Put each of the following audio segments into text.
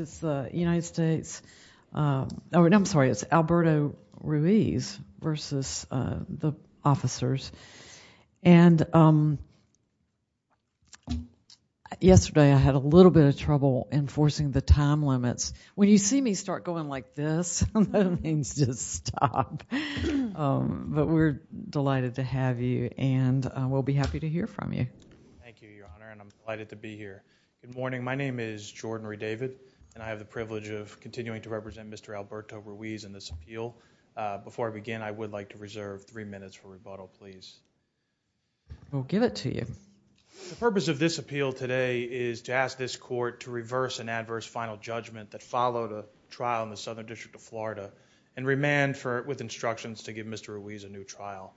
It's the United States, I'm sorry, it's Alberto Ruiz v. the officers and yesterday I had a little bit of trouble enforcing the time limits. When you see me start going like this, that means just stop, but we're delighted to have you and we'll be happy to hear from you. Thank you, Your Honor, and I'm delighted to be here. Good morning. My name is Jordan Redavid and I have the privilege of continuing to represent Mr. Alberto Ruiz in this appeal. Before I begin, I would like to reserve three minutes for rebuttal, please. We'll give it to you. The purpose of this appeal today is to ask this court to reverse an adverse final judgment that followed a trial in the Southern District of Florida and remand with instructions to give Mr. Ruiz a new trial.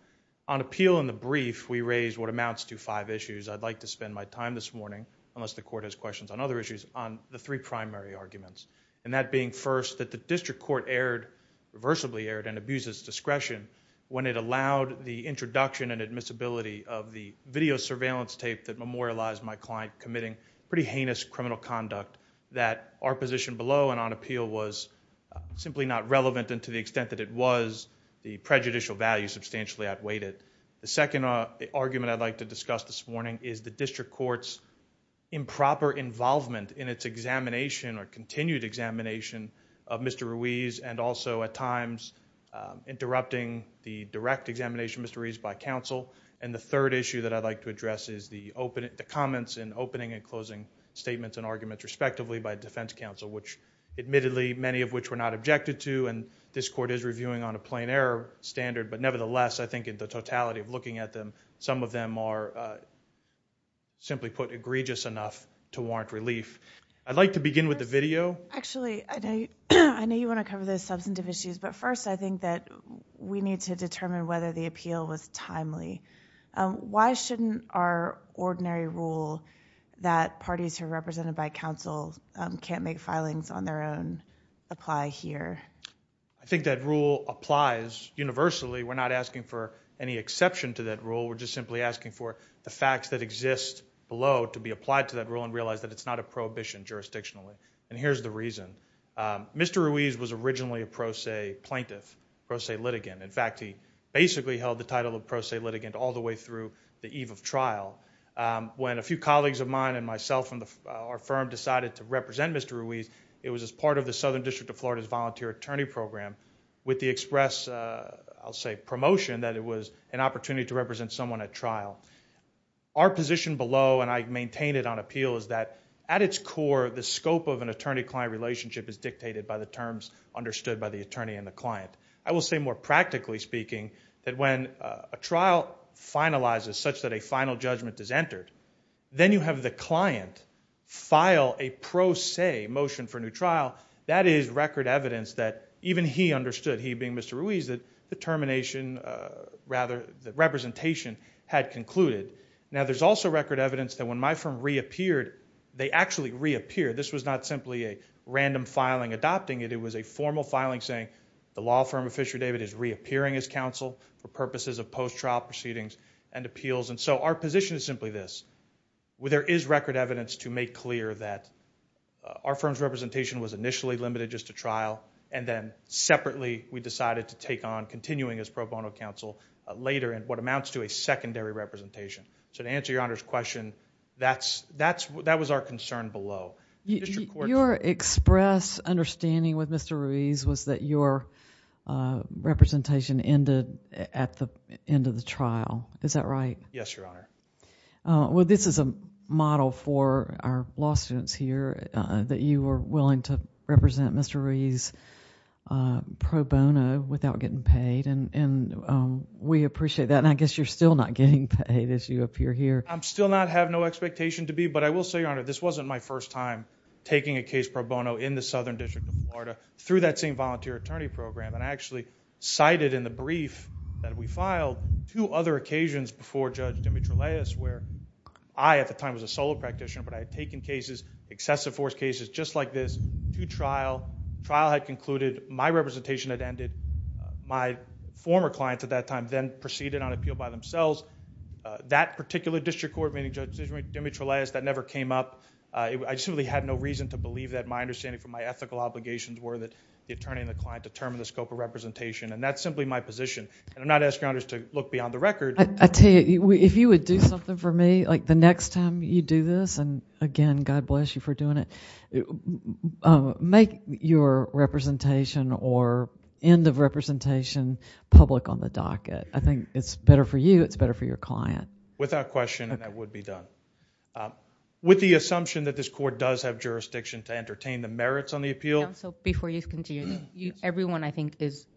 On appeal in the brief, we raised what amounts to five issues. I'd like to spend my time this morning, unless the court has questions on other issues, on the three primary arguments, and that being first, that the district court irreversibly erred and abused its discretion when it allowed the introduction and admissibility of the video surveillance tape that memorialized my client committing pretty heinous criminal conduct that our position below and on appeal was simply not relevant and to the extent that it was, the prejudicial value substantially outweighed it. The second argument I'd like to discuss this morning is the district court's improper involvement in its examination or continued examination of Mr. Ruiz and also, at times, interrupting the direct examination of Mr. Ruiz by counsel. The third issue that I'd like to address is the comments in opening and closing statements and arguments respectively by defense counsel, which admittedly, many of which were not objected to, and this court is reviewing on a plain error standard, but nevertheless, I think in the totality of looking at them, some of them are, simply put, egregious enough to warrant relief. I'd like to begin with the video. Actually, I know you want to cover those substantive issues, but first, I think that we need to determine whether the appeal was timely. Why shouldn't our ordinary rule that parties who are represented by counsel can't make I think that rule applies universally. We're not asking for any exception to that rule. We're just simply asking for the facts that exist below to be applied to that rule and realize that it's not a prohibition jurisdictionally, and here's the reason. Mr. Ruiz was originally a pro se plaintiff, pro se litigant. In fact, he basically held the title of pro se litigant all the way through the eve of trial. When a few colleagues of mine and myself and our firm decided to represent Mr. Ruiz, it was as part of the Southern District of Florida's volunteer attorney program with the express, I'll say, promotion that it was an opportunity to represent someone at trial. Our position below, and I maintain it on appeal, is that at its core, the scope of an attorney-client relationship is dictated by the terms understood by the attorney and the client. I will say more practically speaking that when a trial finalizes such that a final judgment is entered, then you have the client file a pro se motion for a new trial, that is record evidence that even he understood, he being Mr. Ruiz, that the termination, rather the representation had concluded. Now, there's also record evidence that when my firm reappeared, they actually reappeared. This was not simply a random filing adopting it. It was a formal filing saying the law firm of Fisher David is reappearing as counsel for purposes of post-trial proceedings and appeals. Our position is simply this, where there is record evidence to make clear that our firm's representation was initially limited just to trial, and then separately we decided to take on continuing as pro bono counsel later in what amounts to a secondary representation. To answer your Honor's question, that was our concern below. Your express understanding with Mr. Ruiz was that your representation ended at the end of the trial. Is that right? Yes, Your Honor. Well, this is a model for our law students here that you were willing to represent Mr. Ruiz pro bono without getting paid, and we appreciate that, and I guess you're still not getting paid as you appear here. I still have no expectation to be, but I will say, Your Honor, this wasn't my first time taking a case pro bono in the Southern District of Florida through that same volunteer attorney program, and I actually cited in the brief that we filed two other occasions before Judge Dimitrileous where I, at the time, was a solo practitioner, but I had taken cases, excessive force cases, just like this, to trial. Trial had concluded, my representation had ended, my former clients at that time then proceeded on appeal by themselves. That particular district court meeting, Judge Dimitrileous, that never came up. I simply had no reason to believe that. My understanding from my ethical obligations were that the attorney and the client determine the scope of representation, and that's simply my position, and I'm not asking you to look beyond the record. I tell you, if you would do something for me, like the next time you do this, and again, God bless you for doing it, make your representation or end of representation public on the docket. I think it's better for you, it's better for your client. Without question, and that would be done. With the assumption that this court does have jurisdiction to entertain the merits on the appeal. Before you continue, everyone, I think, has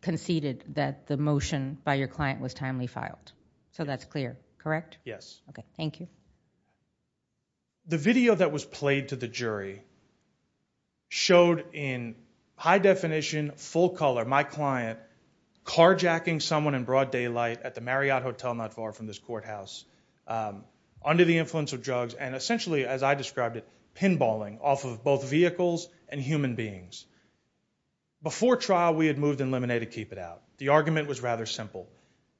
conceded that the motion by your client was timely filed, so that's clear, correct? Yes. Okay, thank you. The video that was played to the jury showed in high definition, full color, my client carjacking someone in broad daylight at the Marriott Hotel, not far from this courthouse, under the influence of drugs, and essentially, as I described it, pinballing off of both vehicles and human beings. Before trial, we had moved in Lemonade to keep it out. The argument was rather simple.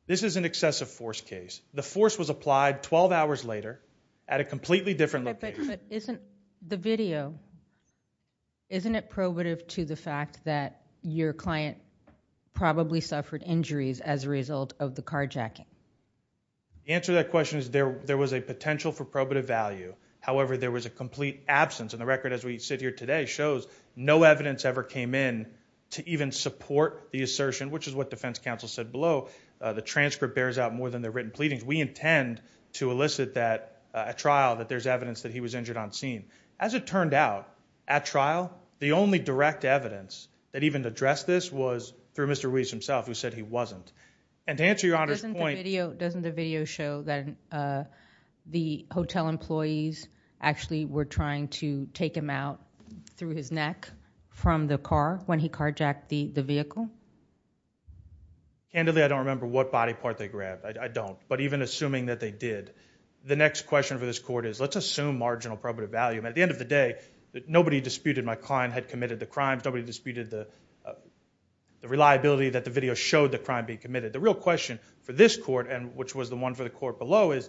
This is an excessive force case. The force was applied 12 hours later at a completely different location. Okay, but isn't the video, isn't it probative to the fact that your client probably suffered injuries as a result of the carjacking? The answer to that question is there was a potential for probative value, however, there was a complete absence, and the record as we sit here today shows no evidence ever came in to even support the assertion, which is what defense counsel said below, the transcript bears out more than the written pleadings. We intend to elicit that, at trial, that there's evidence that he was injured on scene. As it turned out, at trial, the only direct evidence that even addressed this was through Mr. Ruiz himself, who said he wasn't. And to answer your Honor's point- Doesn't the video show that the hotel employees actually were trying to take him out through his neck from the car when he carjacked the vehicle? Candidly, I don't remember what body part they grabbed, I don't. But even assuming that they did, the next question for this court is let's assume marginal probative value. At the end of the day, nobody disputed my client had committed the crimes, nobody disputed the reliability that the video showed the crime being committed. The real question for this court, and which was the one for the court below, is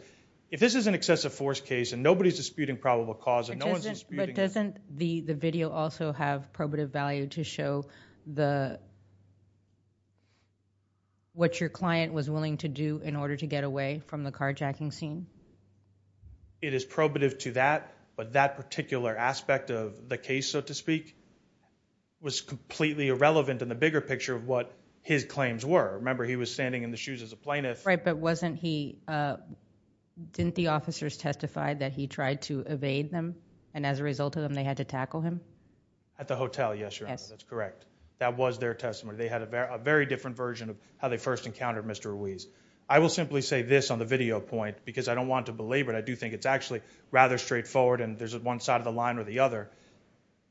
if this is an excessive force case and nobody's disputing probable cause- But doesn't the video also have probative value to show what your client was willing to do in order to get away from the carjacking scene? It is probative to that, but that particular aspect of the case, so to speak, was completely irrelevant in the bigger picture of what his claims were. Remember, he was standing in the shoes as a plaintiff- Right, but wasn't he- didn't the officers testify that he tried to evade them, and as a result of them, they had to tackle him? At the hotel, yes, your Honor, that's correct. That was their testimony. They had a very different version of how they first encountered Mr. Ruiz. I will simply say this on the video point, because I don't want to belabor it, I do think it's actually rather straightforward, and there's one side of the line or the other.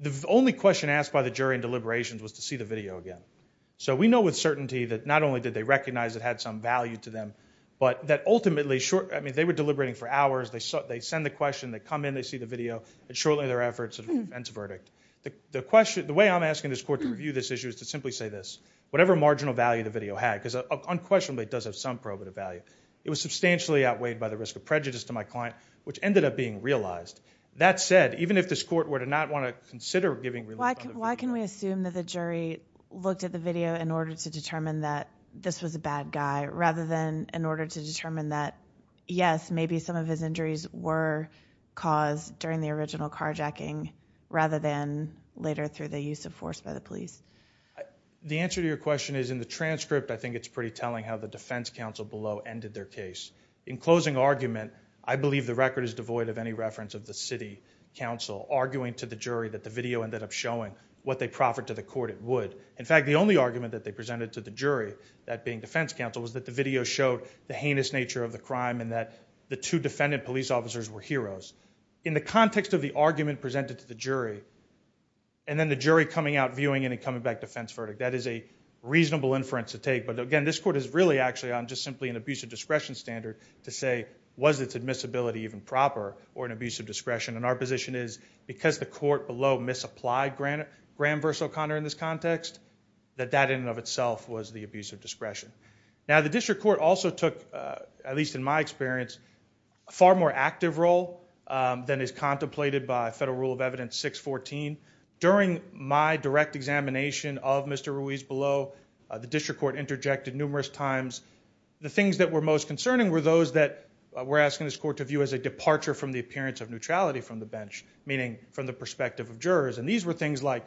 The only question asked by the jury in deliberations was to see the video again. So we know with certainty that not only did they recognize it had some value to them, but that ultimately short- I mean, they were deliberating for hours, they send the question, they come in, they see the video, and shortly thereafter, it's a defense verdict. The way I'm asking this court to review this issue is to simply say this, whatever marginal value the video had, because unquestionably, it does have some probative value. It was substantially outweighed by the risk of prejudice to my client, which ended up being realized. That said, even if this court were to not want to consider giving- Why can we assume that the jury looked at the video in order to determine that this was a bad guy, rather than in order to determine that, yes, maybe some of his injuries were caused during the original carjacking, rather than later through the use of force by the police? The answer to your question is, in the transcript, I think it's pretty telling how the defense counsel below ended their case. In closing argument, I believe the record is devoid of any reference of the city counsel arguing to the jury that the video ended up showing what they proffered to the court it would. In fact, the only argument that they presented to the jury, that being defense counsel, was that the video showed the heinous nature of the crime, and that the two defendant police officers were heroes. In the context of the argument presented to the jury, and then the jury coming out viewing it and coming back defense verdict, that is a reasonable inference to take, but again, this court is really actually on just simply an abuse of discretion standard to say, was its admissibility even proper, or an abuse of discretion, and our position is, because the court below misapplied Graham v. O'Connor in this context, that that in and of itself was the abuse of discretion. Now, the district court also took, at least in my experience, a far more active role than is contemplated by federal rule of evidence 614. During my direct examination of Mr. Ruiz below, the district court interjected numerous times. The things that were most concerning were those that were asking this court to view as a departure from the appearance of neutrality from the bench, meaning from the perspective of jurors, and these were things like,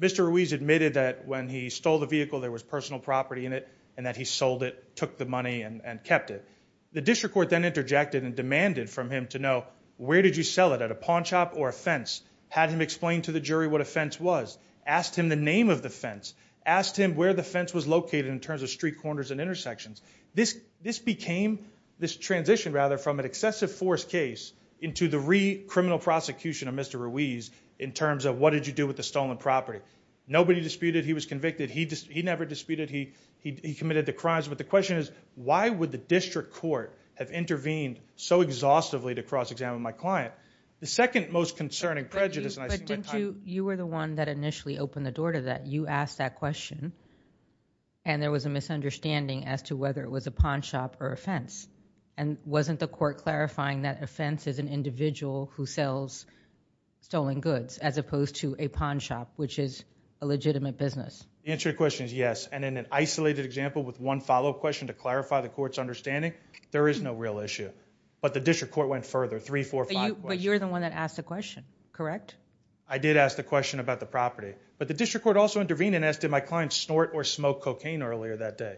Mr. Ruiz admitted that when he stole the vehicle there was personal property in it, and that he sold it, took the money, and kept it. The district court then interjected and demanded from him to know, where did you sell it, at a pawn shop or a fence? Had him explain to the jury what a fence was, asked him the name of the fence, asked him where the fence was located in terms of street corners and intersections. This became, this transition rather, from an excessive force case into the re-criminal prosecution of Mr. Ruiz in terms of, what did you do with the stolen property? Nobody disputed he was convicted, he never disputed he committed the crimes, but the question is, why would the district court have intervened so exhaustively to cross-examine my client? The second most concerning prejudice, and I see my time... But didn't you, you were the one that initially opened the door to that, you asked that question, and there was a misunderstanding as to whether it was a pawn shop or a fence, and wasn't the court clarifying that a fence is an individual who sells stolen goods, as opposed to a pawn shop, which is a legitimate business? The answer to your question is yes, and in an isolated example with one follow-up question to clarify the court's understanding, there is no real issue. But the district court went further, three, four, five questions. But you're the one that asked the question, correct? I did ask the question about the property. But the district court also intervened and asked, did my client snort or smoke cocaine earlier that day?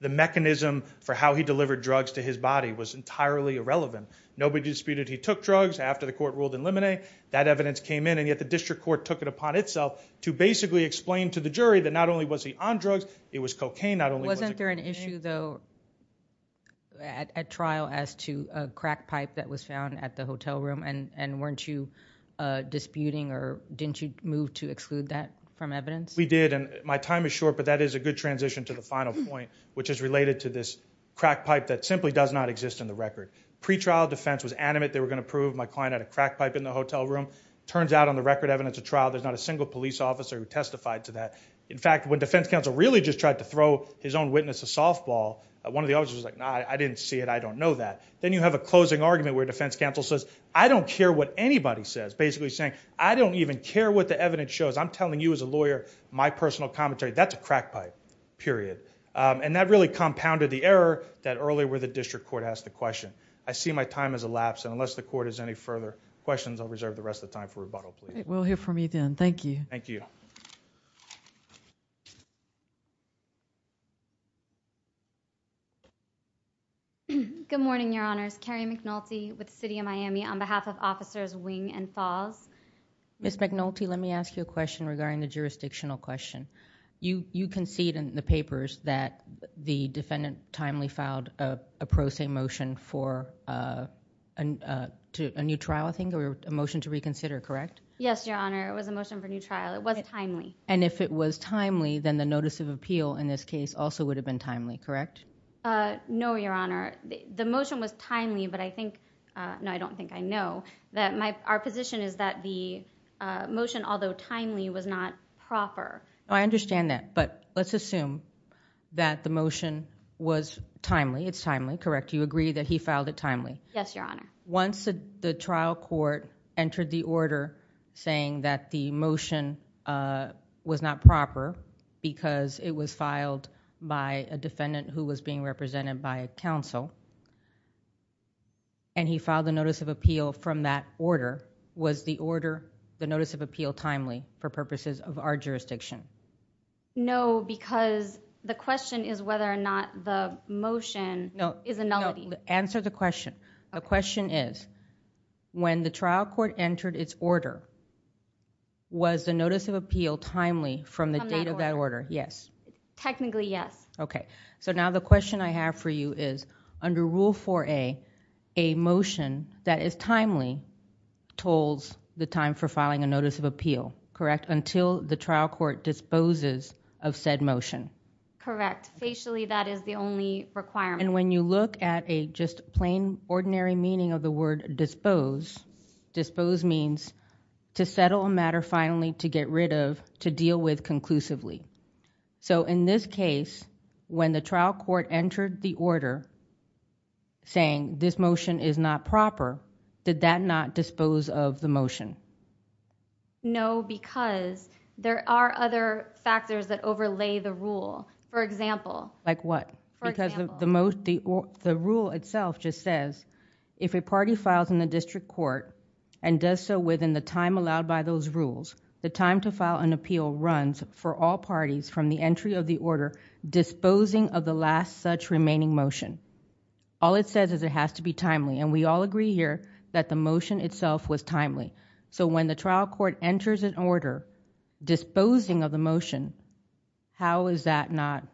The mechanism for how he delivered drugs to his body was entirely irrelevant. Nobody disputed he took drugs after the court ruled in limonade, that evidence came in, and yet the district court took it upon itself to basically explain to the jury that not only was he on drugs, it was cocaine, not only was it cocaine. Was there an issue, though, at trial as to a crack pipe that was found at the hotel room, and weren't you disputing or didn't you move to exclude that from evidence? We did, and my time is short, but that is a good transition to the final point, which is related to this crack pipe that simply does not exist in the record. Pretrial defense was animate, they were going to prove my client had a crack pipe in the hotel room. It turns out on the record evidence of trial, there's not a single police officer who testified to that. In fact, when defense counsel really just tried to throw his own witness a softball, one of the officers was like, no, I didn't see it, I don't know that. Then you have a closing argument where defense counsel says, I don't care what anybody says, basically saying, I don't even care what the evidence shows, I'm telling you as a lawyer, my personal commentary, that's a crack pipe, period. And that really compounded the error that earlier where the district court asked the question. I see my time has elapsed, and unless the court has any further questions, I'll reserve the rest of the time for rebuttal, please. We'll hear from you then. Thank you. Thank you. Ms. McNulty, let me ask you a question regarding the jurisdictional question. You concede in the papers that the defendant timely filed a pro se motion for a new trial, I think, or a motion to reconsider, correct? Yes, Your Honor. It was a motion for a new trial. It was timely. And if it was timely, then the notice of appeal in this case also would have been timely, correct? No, Your Honor. The motion was timely, but I think, no, I don't think I know, that our position is that the motion, although timely, was not proper. No, I understand that, but let's assume that the motion was timely, it's timely, correct? You agree that he filed it timely? Yes, Your Honor. Once the trial court entered the order saying that the motion was not proper because it was filed by a defendant who was being represented by a counsel, and he filed a notice of appeal from that order, was the order, the notice of appeal timely for purposes of our jurisdiction? No, because the question is whether or not the motion is a nullity. No, answer the question. The question is, when the trial court entered its order, was the notice of appeal timely from the date of that order? Yes. Technically, yes. Okay. So now the question I have for you is, under Rule 4A, a motion that is timely tolls the time for filing a notice of appeal, correct, until the trial court disposes of said motion? Correct. Facially, that is the only requirement. And when you look at a just plain, ordinary meaning of the word dispose, dispose means to settle a matter finally to get rid of, to deal with conclusively. So in this case, when the trial court entered the order saying this motion is not proper, did that not dispose of the motion? No, because there are other factors that overlay the rule. For example. Like what? For example, because the rule itself just says, if a party files in the district court and does so within the time allowed by those rules, the time to file an appeal runs for all parties from the entry of the order disposing of the last such remaining motion. All it says is it has to be timely, and we all agree here that the motion itself was timely. So when the trial court enters an order disposing of the motion, how is that not?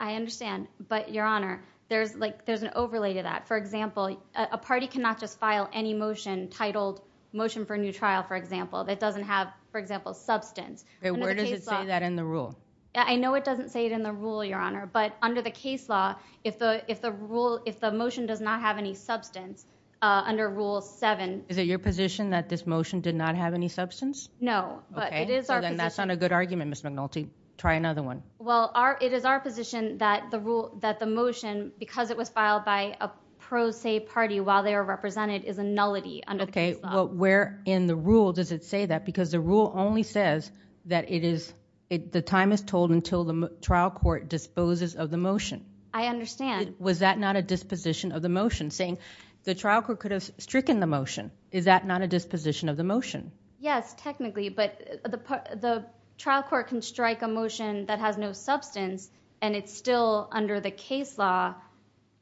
I understand. But Your Honor, there's like there's an overlay to that. For example, a party cannot just file any motion titled motion for new trial, for example, that doesn't have, for example, substance that in the rule. I know it doesn't say it in the rule, Your Honor. But under the case law, if the if the rule, if the motion does not have any substance under rule seven, is it your position that this motion did not have any substance? No, but it is. And that's not a good argument, Mr. McNulty. Try another one. Well, it is our position that the rule that the motion, because it was filed by a pro se party while they are represented, is a nullity under the case law. Well, where in the rule does it say that? Because the rule only says that it is the time is told until the trial court disposes of the motion. I understand. Was that not a disposition of the motion saying the trial court could have stricken the motion? Is that not a disposition of the motion? Yes, technically. But the trial court can strike a motion that has no substance and it's still under the case law.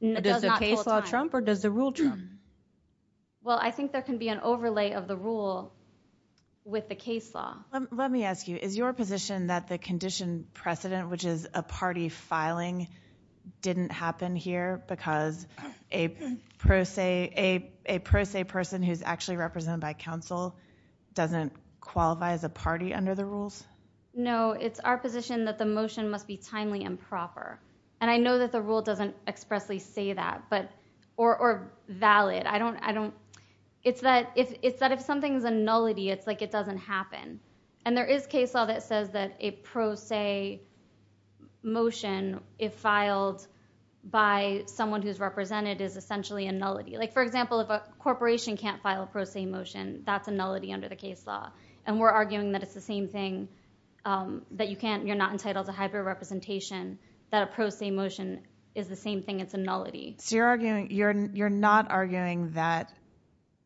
Does the case law trump or does the rule trump? Well, I think there can be an overlay of the rule with the case law. Let me ask you, is your position that the condition precedent, which is a party filing, didn't happen here because a pro se person who's actually represented by counsel doesn't qualify as a party under the rules? No, it's our position that the motion must be timely and proper. And I know that the rule doesn't expressly say that, or valid. It's that if something's a nullity, it's like it doesn't happen. And there is case law that says that a pro se motion, if filed by someone who's represented, is essentially a nullity. Like, for example, if a corporation can't file a pro se motion, that's a nullity under the case law. And we're arguing that it's the same thing, that you're not entitled to hyper-representation, that a pro se motion is the same thing, it's a nullity. So you're arguing, you're not arguing that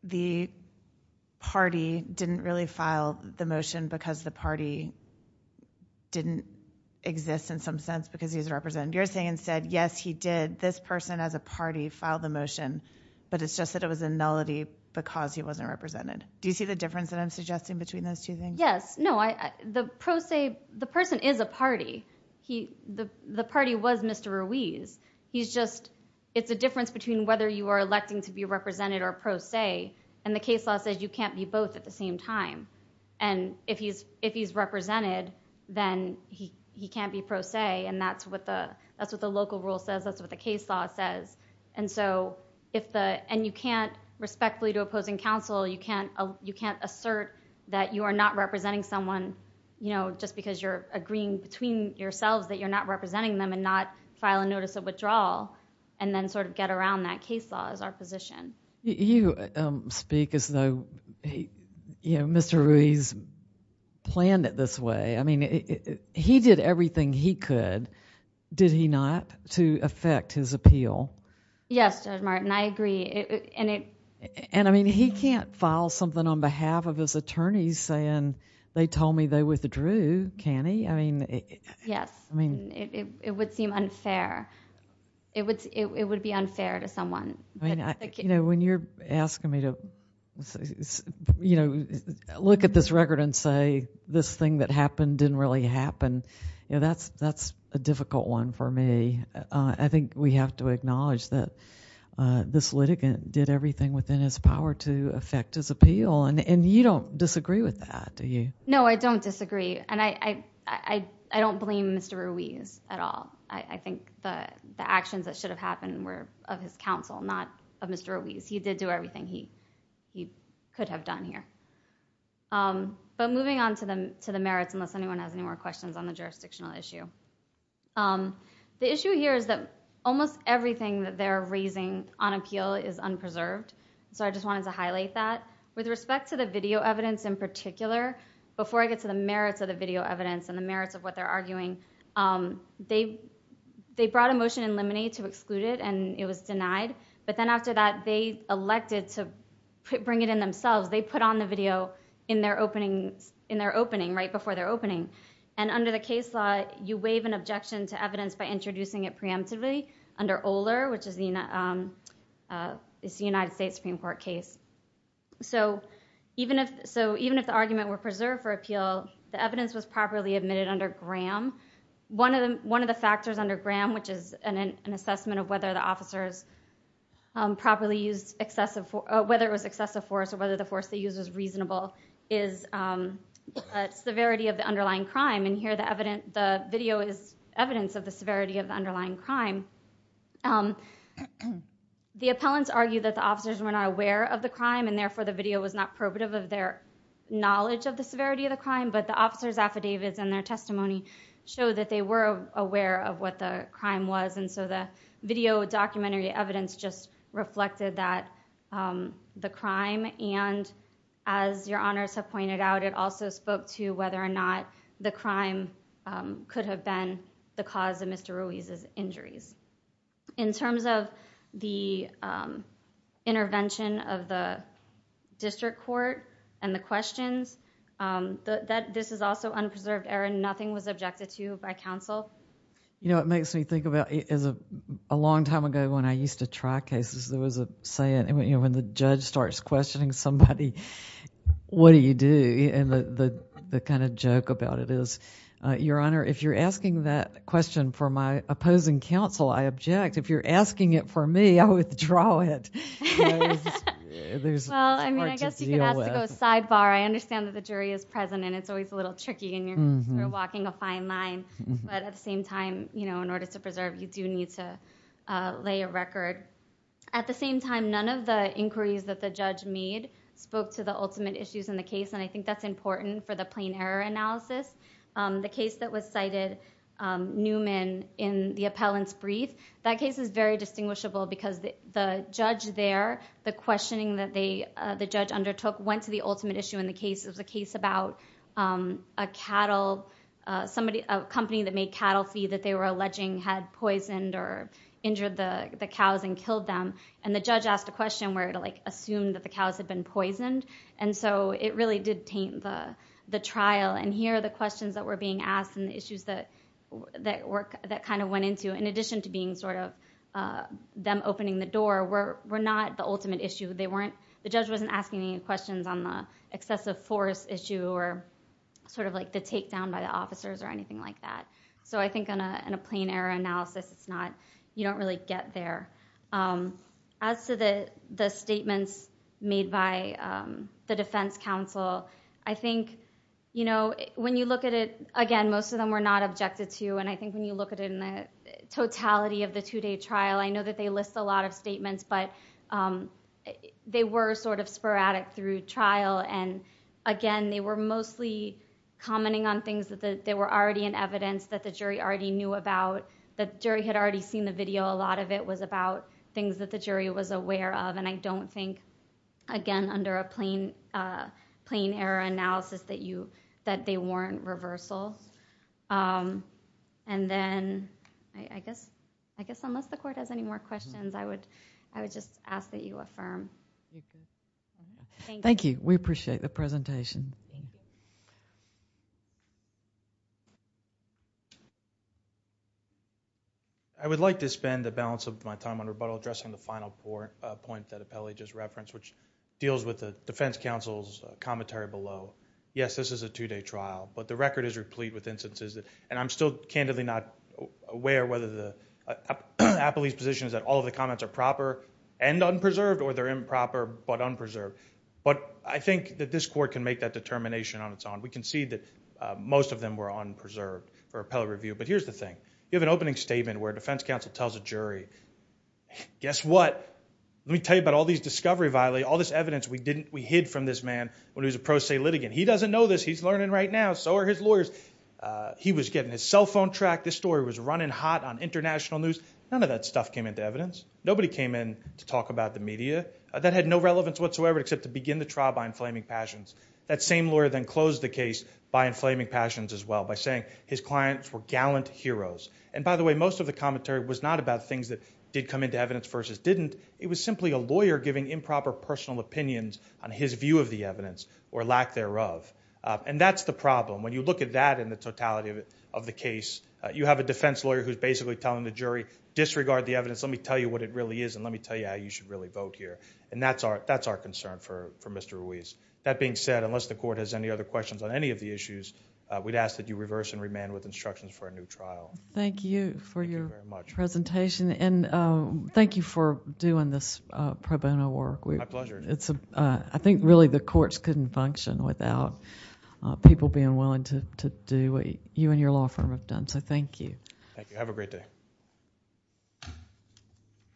the party didn't really file the motion because the party didn't exist in some sense because he's represented. You're saying instead, yes, he did, this person as a party filed the motion, but it's just that it was a nullity because he wasn't represented. Do you see the difference that I'm suggesting between those two things? Yes. No, the pro se, the person is a party. The party was Mr. Ruiz. He's just, it's a difference between whether you are electing to be represented or pro se. And the case law says you can't be both at the same time. And if he's represented, then he can't be pro se, and that's what the local rule says, that's what the case law says. And so if the, and you can't respectfully to opposing counsel, you can't assert that you are not representing someone, you know, just because you're agreeing between yourselves that you're not representing them and not file a notice of withdrawal, and then sort of get around that case law as our position. You speak as though, you know, Mr. Ruiz planned it this way. I mean, he did everything he could, did he not, to affect his appeal? Yes, Judge Martin, I agree. And I mean, he can't file something on behalf of his attorneys saying they told me they withdrew, can he? I mean. Yes. I mean. It would seem unfair. It would be unfair to someone. I mean, you know, when you're asking me to, you know, look at this record and say this thing that happened didn't really happen, you know, that's a difficult one for me. I think we have to acknowledge that this litigant did everything within his power to affect his appeal. And you don't disagree with that, do you? No, I don't disagree. And I don't blame Mr. Ruiz at all. I think the actions that should have happened were of his counsel, not of Mr. Ruiz. He did do everything he could have done here. But moving on to the merits, unless anyone has any more questions on the jurisdictional issue. The issue here is that almost everything that they're raising on appeal is unpreserved. So I just wanted to highlight that. With respect to the video evidence in particular, before I get to the merits of the video evidence and the merits of what they're arguing, they brought a motion in limine to exclude it and it was denied. But then after that, they elected to bring it in themselves. They put on the video in their opening, right before their opening. And under the case law, you waive an objection to evidence by introducing it preemptively under Oler, which is the United States Supreme Court case. So even if the argument were preserved for appeal, the evidence was properly admitted under Graham. One of the factors under Graham, which is an assessment of whether the officers properly used excessive force or whether the force they used was reasonable, is the severity of the underlying crime. And here the video is evidence of the severity of the underlying crime. The appellants argued that the officers were not aware of the crime and therefore the video was not probative of their knowledge of the severity of the crime, but the officers' affidavits and their testimony showed that they were aware of what the crime was. And so the video documentary evidence just reflected that, the crime, and as your honors have pointed out, it also spoke to whether or not the crime could have been the cause of Mr. Ruiz's injuries. In terms of the intervention of the district court and the questions, this is also unpreserved error. Nothing was objected to by counsel. You know, it makes me think about, a long time ago when I used to try cases, there was a saying, you know, when the judge starts questioning somebody, what do you do? And the kind of joke about it is, your honor, if you're asking that question for my opposing counsel, I object. If you're asking it for me, I withdraw it. It's hard to deal with. Well, I mean, I guess you could ask to go sidebar. I understand that the jury is present and it's always a little tricky and you're walking a fine line. But at the same time, you know, in order to preserve, you do need to lay a record. At the same time, none of the inquiries that the judge made spoke to the ultimate issues in the case, and I think that's important for the plain error analysis. The case that was cited, Newman, in the appellant's brief, that case is very distinguishable because the judge there, the questioning that the judge undertook went to the ultimate issue in the case. It was a case about a company that made cattle feed that they were alleging had poisoned or injured the cows and killed them. And the judge asked a question where it, like, assumed that the cows had been poisoned. And so it really did taint the trial. And here are the questions that were being asked and the issues that kind of went into, in addition to being sort of them opening the door, were not the ultimate issue. The judge wasn't asking any questions on the excessive force issue or sort of like the takedown by the officers or anything like that. So I think in a plain error analysis, it's not, you don't really get there. As to the statements made by the defense counsel, I think, you know, when you look at it, again, most of them were not objected to. And I think when you look at it in the totality of the two-day trial, I know that they list a lot of statements, but they were sort of sporadic through trial. And again, they were mostly commenting on things that they were already in evidence that the jury already knew about, that the jury had already seen the video. A lot of it was about things that the jury was aware of. And I don't think, again, under a plain error analysis, that you, that they weren't reversal. And then I guess, I guess unless the court has any more questions, I would, I would just ask that you affirm. Thank you. We appreciate the presentation. Thank you. I would like to spend the balance of my time on rebuttal addressing the final point that Apelli just referenced, which deals with the defense counsel's commentary below. Yes, this is a two-day trial, but the record is replete with instances that, and I'm still candidly not aware whether the, Apelli's position is that all of the comments are proper and unpreserved or they're improper but unpreserved. But I think that this court can make that determination on its own. We can see that most of them were unpreserved for Apelli review. But here's the thing. You have an opening statement where a defense counsel tells a jury, guess what? Let me tell you about all these discovery violations, all this evidence we didn't, we hid from this man when he was a pro se litigant. He doesn't know this. He's learning right now. So are his lawyers. He was getting his cell phone tracked. This story was running hot on international news. None of that stuff came into evidence. Nobody came in to talk about the media. That had no relevance whatsoever except to begin the trial by inflaming passions. That same lawyer then closed the case by inflaming passions as well, by saying his clients were gallant heroes. And by the way, most of the commentary was not about things that did come into evidence versus didn't. It was simply a lawyer giving improper personal opinions on his view of the evidence or lack thereof. And that's the problem. When you look at that in the totality of the case, you have a defense lawyer who's basically telling the jury, disregard the evidence, let me tell you what it really is and let me tell you how you should really vote here. And that's our concern for Mr. Ruiz. That being said, unless the court has any other questions on any of the issues, we'd ask that you reverse and remand with instructions for a new trial. Thank you for your presentation. And thank you for doing this pro bono work. My pleasure. I think really the courts couldn't function without people being willing to do what you and your law firm have done. So thank you. Thank you. Have a great day.